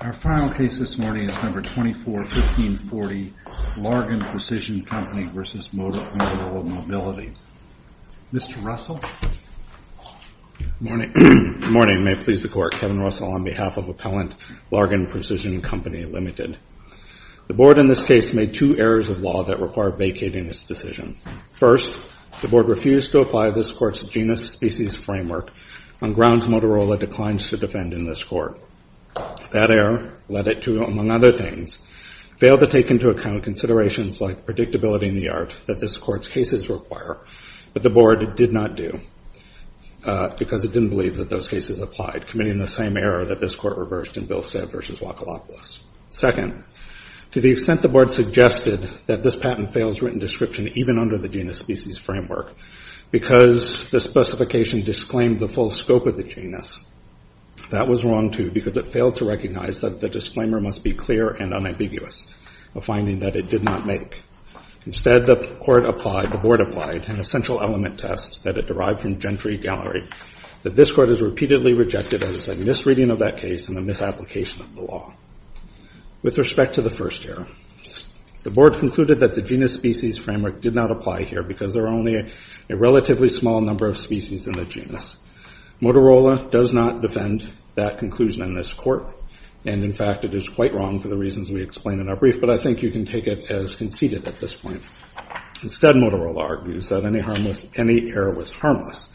Our final case this morning is No. 24-1540, Largan Precision Co. v. Motorola Mobility. Mr. Russell? Good morning. May it please the Court, Kevin Russell on behalf of Appellant Largan Precision Co., Ltd. The Board in this case made two errors of law that require vacating its decision. First, the Board refused to apply this Court's genus-species framework on grounds Motorola declines to defend in this Court. That error led it to, among other things, fail to take into account considerations like predictability in the art that this Court's cases require, but the Board did not do, because it didn't believe that those cases applied, committing the same error that this Court reversed in Bilstead v. Wakalopolis. Second, to the extent the Board suggested that this patent fails written description even under the genus-species framework because the specification disclaimed the full scope of the genus, that was wrong, too, because it failed to recognize that the disclaimer must be clear and unambiguous, a finding that it did not make. Instead, the Board applied an essential element test that it derived from Gentry Gallery that this Court has repeatedly rejected as a misreading of that case and a misapplication of the law. With respect to the first error, the Board concluded that the genus-species framework did not apply here because there are only a relatively small number of species in the Motorola does not defend that conclusion in this Court, and, in fact, it is quite wrong for the reasons we explain in our brief, but I think you can take it as conceded at this point. Instead, Motorola argues that any error was harmless,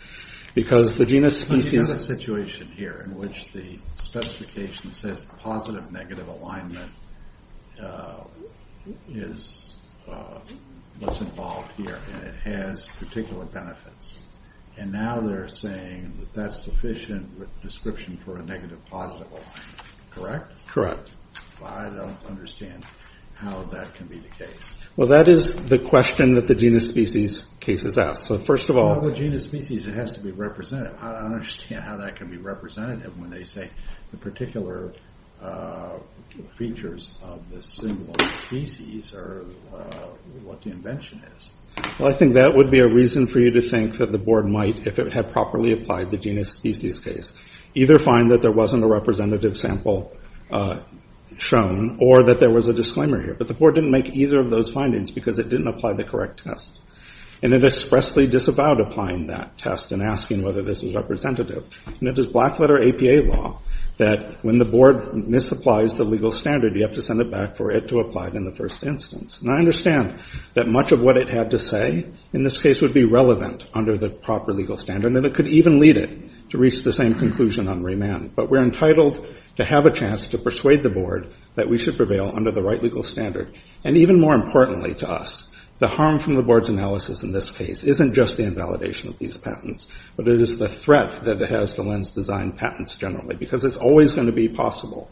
because the genus-species— There is a situation here in which the specification says positive-negative alignment was involved here and it has particular benefits, and now they're saying that that's sufficient description for a negative-positive alignment, correct? Correct. Well, I don't understand how that can be the case. Well, that is the question that the genus-species case has asked, so first of all— Well, with genus-species, it has to be representative. I don't understand how that can be representative when they say the particular features of the genus-species are what the invention is. Well, I think that would be a reason for you to think that the Board might, if it had properly applied the genus-species case, either find that there wasn't a representative sample shown or that there was a disclaimer here, but the Board didn't make either of those findings because it didn't apply the correct test, and it expressly disavowed applying that test and asking whether this was representative. And it is black-letter APA law that when the Board misapplies the legal standard, you have to send it back for it to apply in the first instance. And I understand that much of what it had to say in this case would be relevant under the proper legal standard, and it could even lead it to reach the same conclusion on remand. But we're entitled to have a chance to persuade the Board that we should prevail under the right legal standard. And even more importantly to us, the harm from the Board's analysis in this case isn't just the invalidation of these patents, but it is the threat that it has to lens-designed patents generally, because it's always going to be possible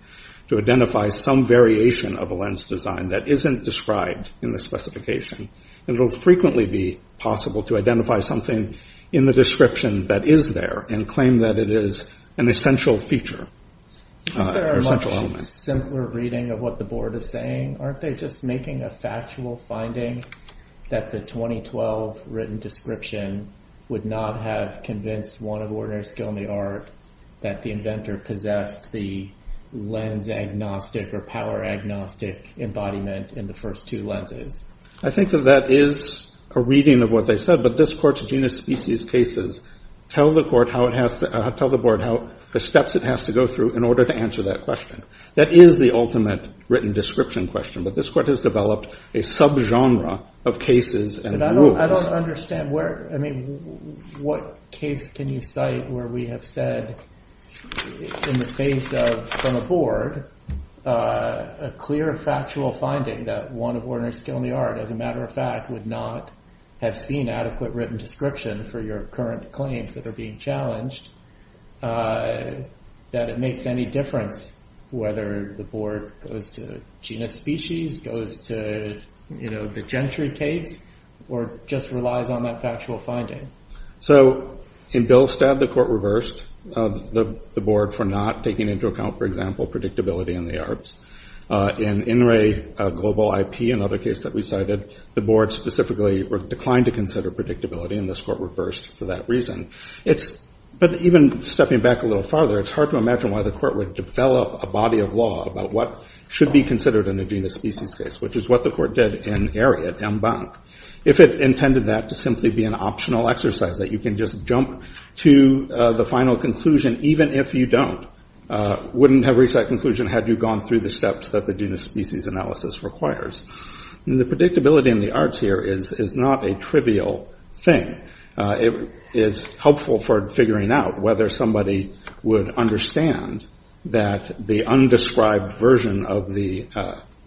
to identify some variation of a lens design that isn't described in the specification. And it will frequently be possible to identify something in the description that is there and claim that it is an essential feature, an essential element. There are much simpler reading of what the Board is saying. Aren't they just making a factual finding that the 2012 written description would not have convinced one of ordinary skill in the art that the inventor possessed the lens agnostic or power agnostic embodiment in the first two lenses? I think that that is a reading of what they said. But this Court's genus species cases tell the Board how the steps it has to go through in order to answer that question. That is the ultimate written description question. But this Court has developed a subgenre of cases and rules. I don't understand. What case can you cite where we have said in the face of, from a Board, a clear factual finding that one of ordinary skill in the art, as a matter of fact, would not have seen adequate written description for your current claims that are being challenged, that it makes any difference whether the Board goes to genus species, goes to the gentry case, or just relies on that factual finding? So in Bill Stad, the Court reversed the Board for not taking into account, for example, predictability in the arts. In INRAE Global IP, another case that we cited, the Board specifically declined to consider predictability, and this Court reversed for that reason. But even stepping back a little farther, it's hard to imagine why the Court would develop a body of law about what should be considered in a genus species case, which is what the Court did in AREA at MBank, if it intended that to simply be an optional exercise that you can just jump to the final conclusion, even if you don't, wouldn't have reached that conclusion had you gone through the steps that the genus species analysis requires. The predictability in the arts here is not a trivial thing. It is helpful for figuring out whether somebody would understand that the undescribed version of the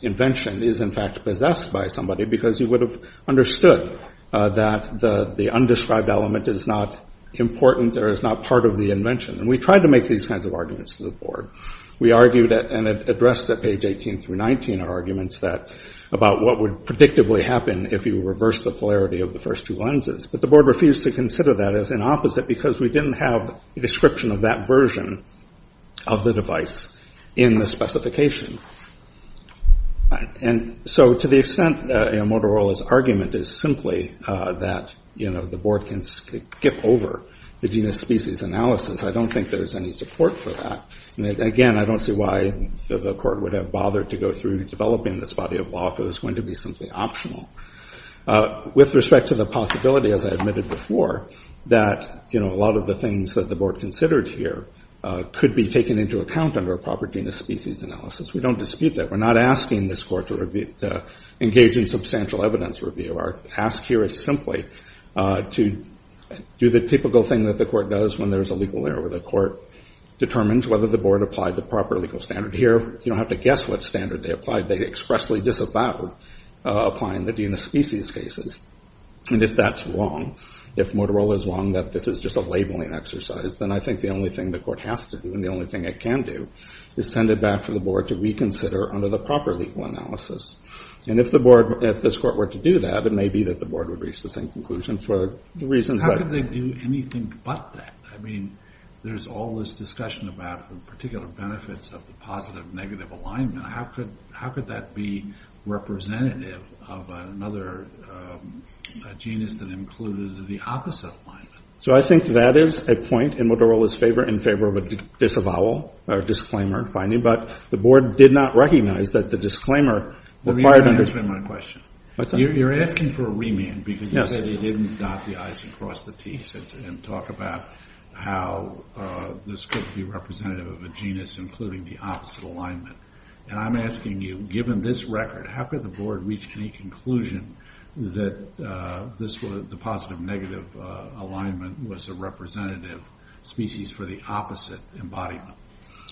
invention is in fact possessed by somebody, because you would have understood that the undescribed element is not important or is not part of the invention. And we tried to make these kinds of arguments to the Board. We argued and addressed at page 18 through 19 our arguments about what would predictably happen if you reversed the polarity of the first two lenses. But the Board refused to consider that as an opposite, because we didn't have a description of that version of the device in the specification. And so to the extent that Motorola's argument is simply that the Board can skip over the genus species analysis, I don't think there's any support for that. And again, I don't see why the Court would have bothered to go through developing this body of law if it was going to be simply optional. With respect to the possibility, as I admitted before, that a lot of the things that the Board considered here could be taken into account under a proper genus species analysis, we don't dispute that. We're not asking this Court to engage in substantial evidence review. Our ask here is simply to do the typical thing that the Court does when there's a legal error, where the Court determines whether the Board applied the proper legal standard. Here, you don't have to guess what standard they applied. They expressly disavowed applying the genus species cases. And if that's wrong, if Motorola's wrong that this is just a labeling exercise, then I think the only thing the Court has to do and the only thing it can do is send it back to the Board to reconsider under the proper legal analysis. And if the Board, if this Court were to do that, it may be that the Board would reach the same conclusion for the reasons that— How could they do anything but that? I mean, there's all this discussion about the particular benefits of the positive-negative alignment. How could that be representative of another genus that included the opposite alignment? So I think that is a point in Motorola's favor, in favor of a disavowal or disclaimer finding. But the Board did not recognize that the disclaimer required— You're not answering my question. What's that? You're asking for a remand because you said they didn't dot the I's and cross the T's and talk about how this could be representative of a genus including the opposite alignment. And I'm asking you, given this record, how could the Board reach any conclusion that the positive-negative alignment was a representative species for the opposite embodiment?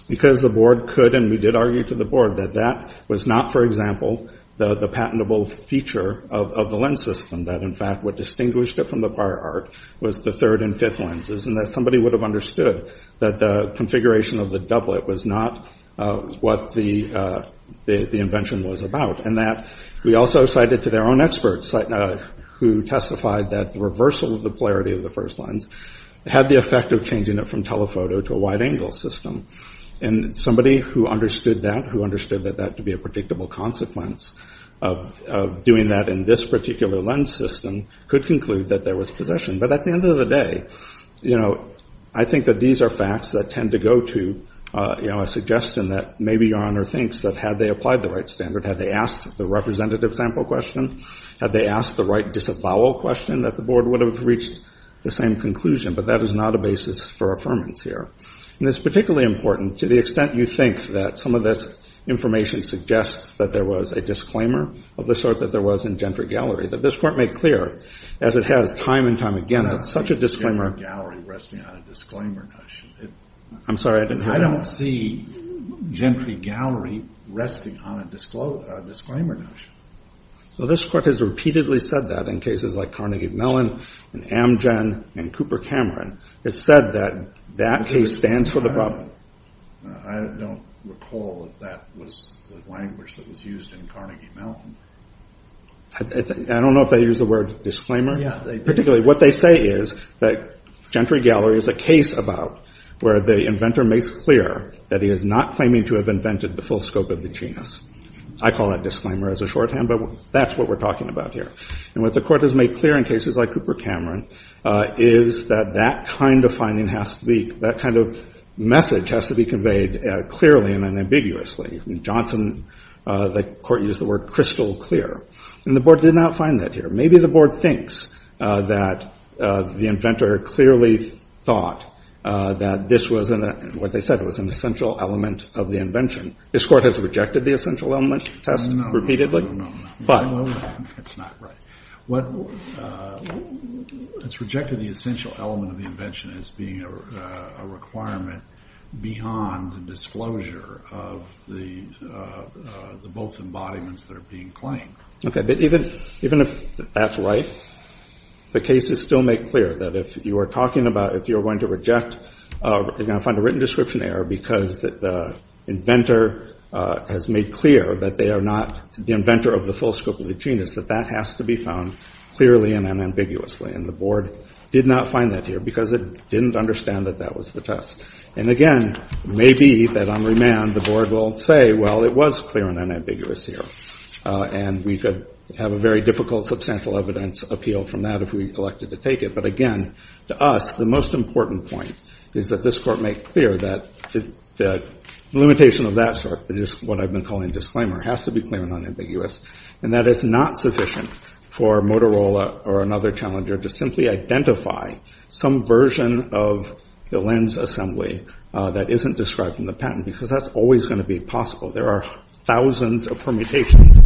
Because the Board could, and we did argue to the Board, that that was not, for example, the patentable feature of the lens system, that in fact what distinguished it from the prior art was the third and fifth lenses and that somebody would have understood that the configuration of the doublet was not what the invention was about. And that we also cited to their own experts who testified that the reversal of the polarity of the first lens had the effect of changing it from telephoto to a wide-angle system. And somebody who understood that, who understood that that could be a predictable consequence of doing that in this particular lens system, could conclude that there was possession. But at the end of the day, I think that these are facts that tend to go to a suggestion that maybe Your Honor thinks that had they applied the right standard, had they asked the representative sample question, had they asked the right disavowal question, that the Board would have reached the same conclusion. But that is not a basis for affirmance here. And it's particularly important to the extent you think that some of this information suggests that there was a disclaimer of the sort that there was in Gentry Gallery, that this Court made clear, as it has time and time again, that such a disclaimer... I don't see Gentry Gallery resting on a disclaimer notion. I'm sorry, I didn't hear that. I don't see Gentry Gallery resting on a disclaimer notion. Well, this Court has repeatedly said that in cases like Carnegie Mellon and Amgen and Cooper Cameron. It's said that that case stands for the problem. I don't recall that that was the language that was used in Carnegie Mellon. I don't know if they use the word disclaimer. Particularly what they say is that Gentry Gallery is a case about where the inventor makes clear that he is not claiming to have invented the full scope of the genus. I call that disclaimer as a shorthand, but that's what we're talking about here. And what the Court has made clear in cases like Cooper Cameron is that that kind of message has to be conveyed clearly and unambiguously. In Johnson, the Court used the word crystal clear. And the Board did not find that here. Maybe the Board thinks that the inventor clearly thought that this was, what they said, it was an essential element of the invention. This Court has rejected the essential element test repeatedly. No, no, no. But... It's not right. It's rejected the essential element of the invention as being a requirement beyond the disclosure of the both embodiments that are being claimed. Okay. But even if that's right, the cases still make clear that if you are talking about, if you're going to reject, you're going to find a written description error because the inventor has made clear that they are not, the inventor of the full scope of the genus, that that has to be found clearly and unambiguously. And the Board did not find that here because it didn't understand that that was the test. And, again, maybe that on remand the Board will say, well, it was clear and unambiguous here. And we could have a very difficult substantial evidence appeal from that if we elected to take it. But, again, to us, the most important point is that this Court make clear that the limitation of that sort, what I've been calling disclaimer, has to be clear and unambiguous, and that it's not sufficient for Motorola or another challenger to simply identify some version of the lens assembly that isn't described in the patent because that's always going to be possible. There are thousands of permutations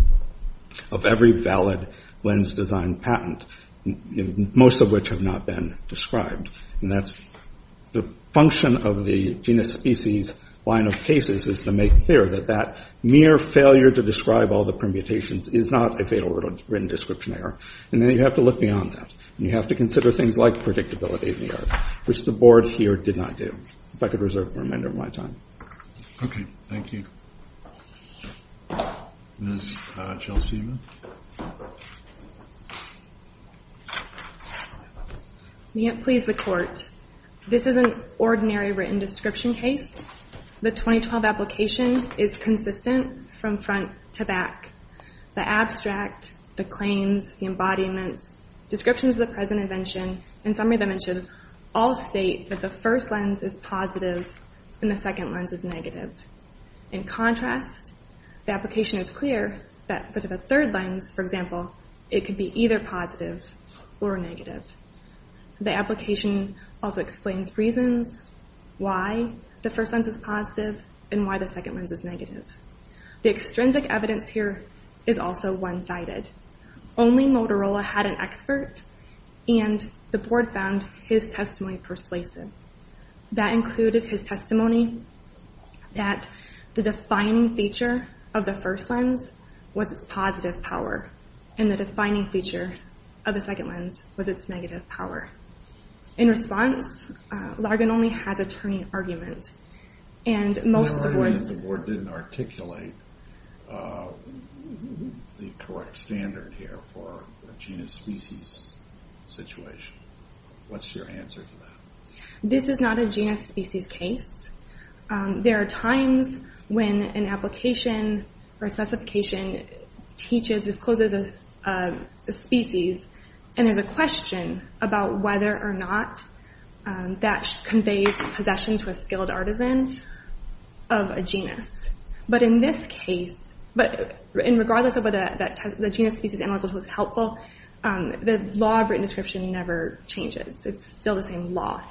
of every valid lens design patent, most of which have not been described. And that's the function of the genus species line of cases is to make clear that that mere failure to describe all the permutations is not a fatal written description error. And then you have to look beyond that. And you have to consider things like predictability of the art, which the Board here did not do. If I could reserve the remainder of my time. Okay. Thank you. Ms. Gelsina. May it please the Court, this is an ordinary written description case. The 2012 application is consistent from front to back. The abstract, the claims, the embodiments, descriptions of the present invention, and summary dimensions all state that the first lens is positive and the second lens is negative. In contrast, the application is clear that for the third lens, for example, it could be either positive or negative. The application also explains reasons why the first lens is positive and why the second lens is negative. The extrinsic evidence here is also one-sided. Only Motorola had an expert, and the Board found his testimony persuasive. That included his testimony that the defining feature of the first lens was its positive power, and the defining feature of the second lens was its negative power. In response, Largan only has a turning argument. Largan and the Board didn't articulate the correct standard here for a genus-species situation. What's your answer to that? This is not a genus-species case. There are times when an application or a specification teaches, discloses a species, and there's a question about whether or not that conveys possession to a skilled artisan of a genus. But in this case, regardless of whether the genus-species analytical tool is helpful, the law of written description never changes. It's still the same law.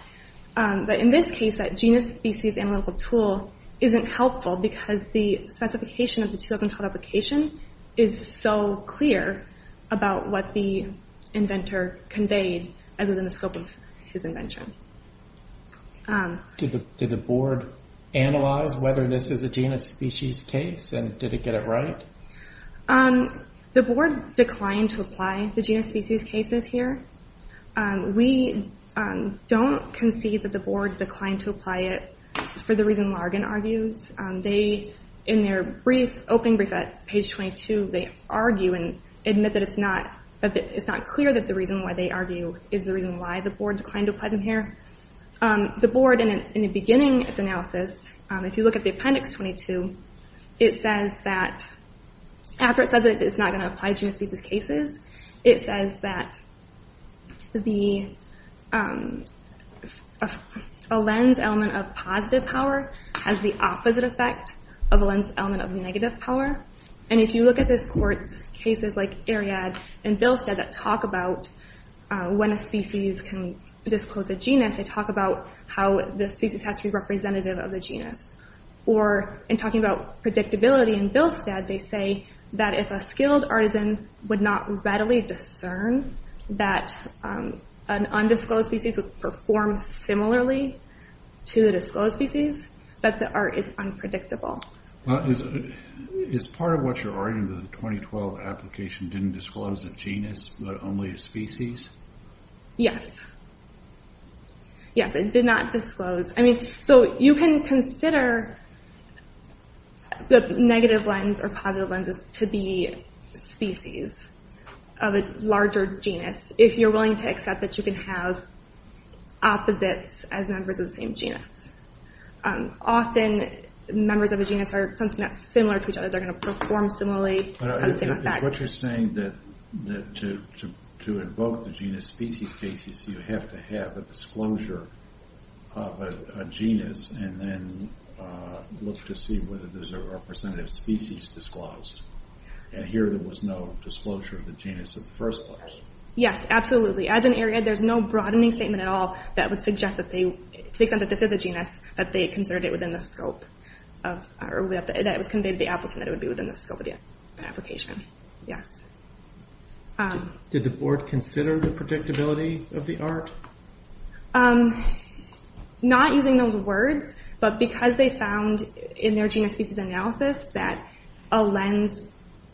But in this case, that genus-species analytical tool isn't helpful because the specification of the 2012 application is so clear about what the inventor conveyed, as was in the scope of his invention. Did the Board analyze whether this is a genus-species case, and did it get it right? The Board declined to apply the genus-species cases here. We don't concede that the Board declined to apply it for the reason Largan argues. In their opening brief at page 22, they argue and admit that it's not clear that the reason why they argue is the reason why the Board declined to apply them here. The Board, in the beginning of its analysis, if you look at the appendix 22, it says that after it says that it's not going to apply genus-species cases, it says that a Lenz element of positive power has the opposite effect of a Lenz element of negative power. And if you look at this court's cases like Eriad and Bilstad that talk about when a species can disclose a genus, they talk about how the species has to be representative of the genus. In talking about predictability in Bilstad, they say that if a skilled artisan would not readily discern that an undisclosed species would perform similarly to the disclosed species, that the art is unpredictable. Is part of what you're arguing that the 2012 application didn't disclose a genus, but only a species? Yes. Yes, it did not disclose. I mean, so you can consider the negative Lenz or positive Lenz to be species of a larger genus if you're willing to accept that you can have opposites as members of the same genus. Often, members of a genus are something that's similar to each other. They're going to perform similarly, have the same effect. Is what you're saying that to invoke the genus-species case, you have to have a disclosure of a genus and then look to see whether there's a representative species disclosed? And here there was no disclosure of the genus in the first place. Yes, absolutely. As an Eriad, there's no broadening statement at all that would suggest that they, to the extent that this is a genus, that they considered it within the scope of, or that it was conveyed to the applicant that it would be within the scope of the application. Yes. Did the board consider the predictability of the art? Not using those words, but because they found in their genus-species analysis that a Lenz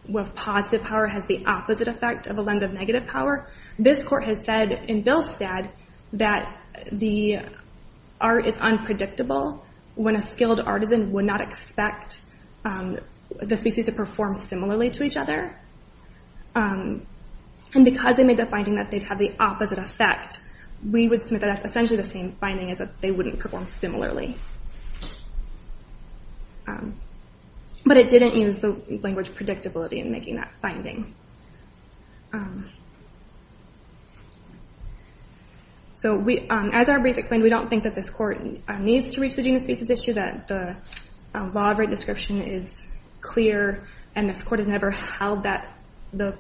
with positive power has the opposite effect of a Lenz of negative power, this court has said in Billstad that the art is unpredictable when a skilled artisan would not expect the species to perform similarly to each other. And because they made the finding that they'd have the opposite effect, we would submit that that's essentially the same finding, is that they wouldn't perform similarly. But it didn't use the language predictability in making that finding. As our brief explained, we don't think that this court needs to reach the genus-species issue, that the law of rate description is clear, and this court has never held that the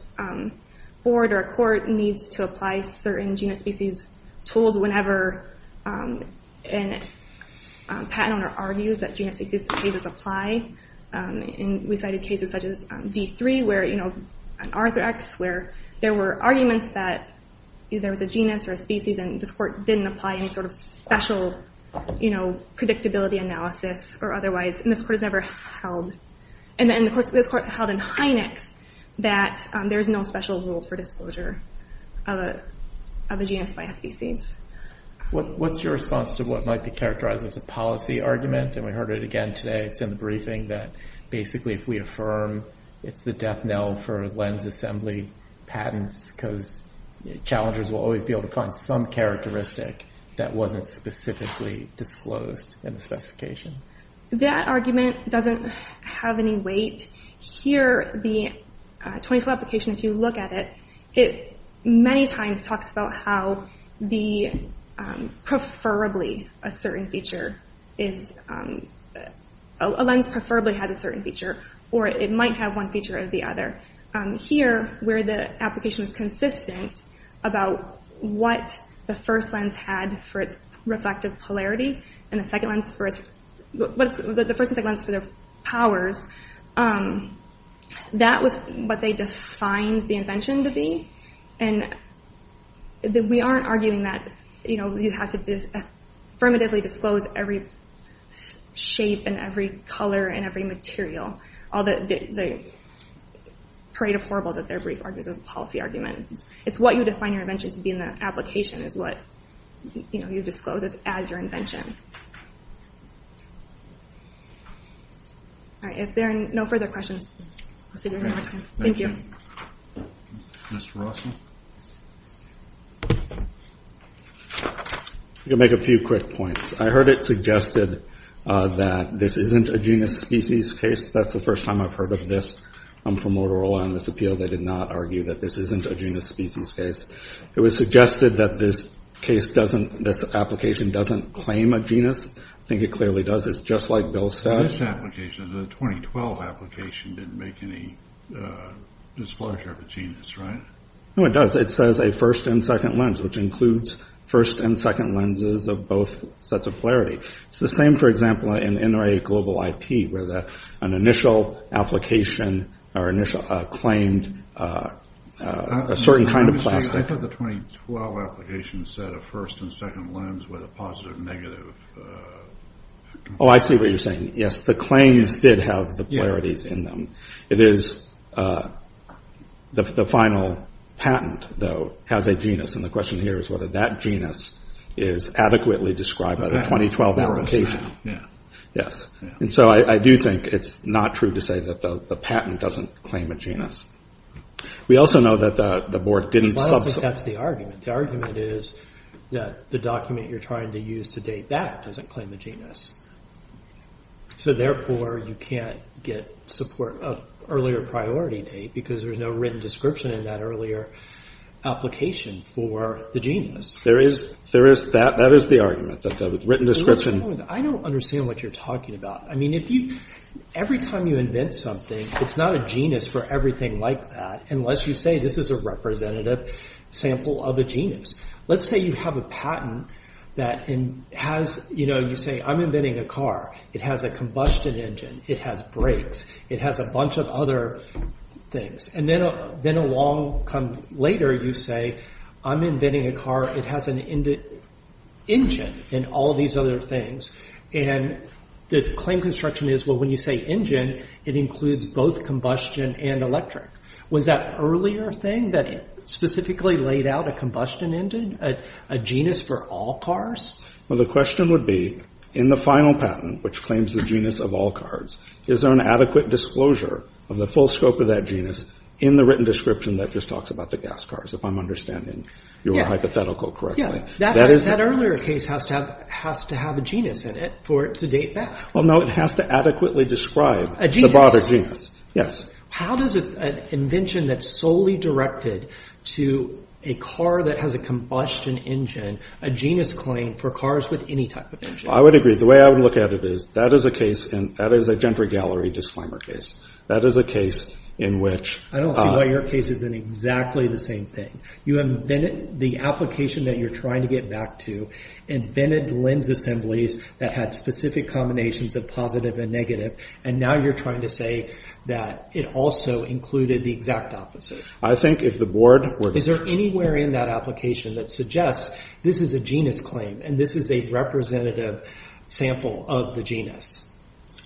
board or court needs to apply certain genus-species tools whenever a patent owner argues that genus-species tools apply. We cited cases such as D3, where an arthrax, where there were arguments that there was a genus or a species and this court didn't apply any sort of special predictability analysis or otherwise, and this court has never held, and this court held in Hynex that there's no special rule for disclosure of a genus by a species. What's your response to what might be characterized as a policy argument? And we heard it again today, it's in the briefing, that basically if we affirm it's the death knell for Lenz assembly patents, because challengers will always be able to find some characteristic that wasn't specifically disclosed in the specification. That argument doesn't have any weight. Here, the 24 application, if you look at it, it many times talks about how a lens preferably has a certain feature, or it might have one feature or the other. Here, where the application is consistent about what the first lens had for its reflective polarity and the first and second lens for their powers, that was what they defined the invention to be, and we aren't arguing that you have to affirmatively disclose every shape and every color and every material. All the parade of horribles at their brief arguments is a policy argument. It's what you define your invention to be in the application is what you disclose as your invention. If there are no further questions, I'll see you again next time. Thank you. Mr. Rossman? I'm going to make a few quick points. I heard it suggested that this isn't a genus species case. That's the first time I've heard of this from Motorola on this appeal. They did not argue that this isn't a genus species case. It was suggested that this application doesn't claim a genus. I think it clearly does. It's just like Bill's study. This application, the 2012 application, didn't make any disclosure of a genus, right? No, it does. It says a first and second lens, which includes first and second lenses of both sets of polarity. It's the same, for example, in NRA Global IT, where an initial application claimed a certain kind of plastic. I thought the 2012 application said a first and second lens with a positive negative. Oh, I see what you're saying. Yes, the claims did have the polarities in them. The final patent, though, has a genus. The question here is whether that genus is adequately described by the 2012 application. I do think it's not true to say that the patent doesn't claim a genus. I think that's the argument. The argument is that the document you're trying to use to date that doesn't claim a genus. Therefore, you can't get support of an earlier priority date, because there's no written description in that earlier application for the genus. That is the argument, the written description. I don't understand what you're talking about. Every time you invent something, it's not a genus for everything like that, unless you say this is a representative sample of a genus. Let's say you have a patent that you say, I'm inventing a car. It has a combustion engine. It has brakes. It has a bunch of other things. Then a long time later, you say, I'm inventing a car. It has an engine and all these other things. The claim construction is, well, when you say engine, it includes both combustion and electric. Was that earlier thing that specifically laid out a combustion engine, a genus for all cars? Well, the question would be, in the final patent, which claims the genus of all cars, is there an adequate disclosure of the full scope of that genus in the written description that just talks about the gas cars, if I'm understanding your hypothetical correctly? That earlier case has to have a genus in it for it to date back. Well, no, it has to adequately describe the broader genus. A genus. Yes. How does an invention that's solely directed to a car that has a combustion engine, a genus claim for cars with any type of engine? I would agree. The way I would look at it is, that is a case, and that is a Gentry Gallery disclaimer case. That is a case in which— I don't see why your case isn't exactly the same thing. You invented the application that you're trying to get back to, invented lens assemblies that had specific combinations of positive and negative, and now you're trying to say that it also included the exact opposite. I think if the board were to— Is there anywhere in that application that suggests this is a genus claim and this is a representative sample of the genus?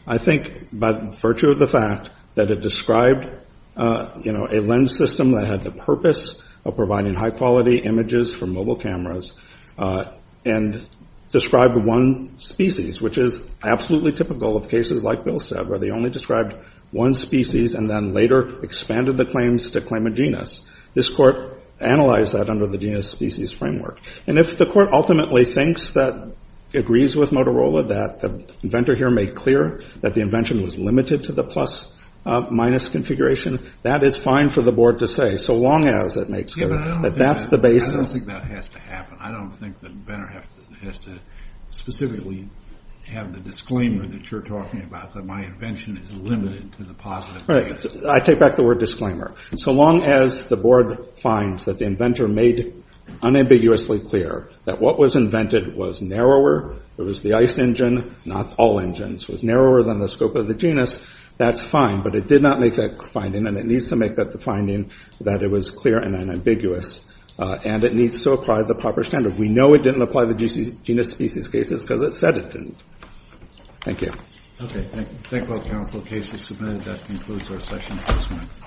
I think by virtue of the fact that it described a lens system that had the purpose of providing high-quality images for mobile cameras, and described one species, which is absolutely typical of cases like Bill said, where they only described one species and then later expanded the claims to claim a genus. This court analyzed that under the genus-species framework. If the court ultimately thinks that—agrees with Motorola that the inventor here made clear that the invention was limited to the plus-minus configuration, that is fine for the board to say, so long as it makes clear that that's the basis— I don't think that has to happen. I don't think the inventor has to specifically have the disclaimer that you're talking about, that my invention is limited to the positive and negative. Right. I take back the word disclaimer. So long as the board finds that the inventor made unambiguously clear that what was invented was narrower, it was the ICE engine, not all engines, was narrower than the scope of the genus, that's fine. But it did not make that finding, and it needs to make that the finding that it was clear and unambiguous, and it needs to apply the proper standard. We know it didn't apply the genus-species cases because it said it didn't. Thank you. Okay. Thank you. Thank you, counsel. The case is submitted. That concludes our session for this morning.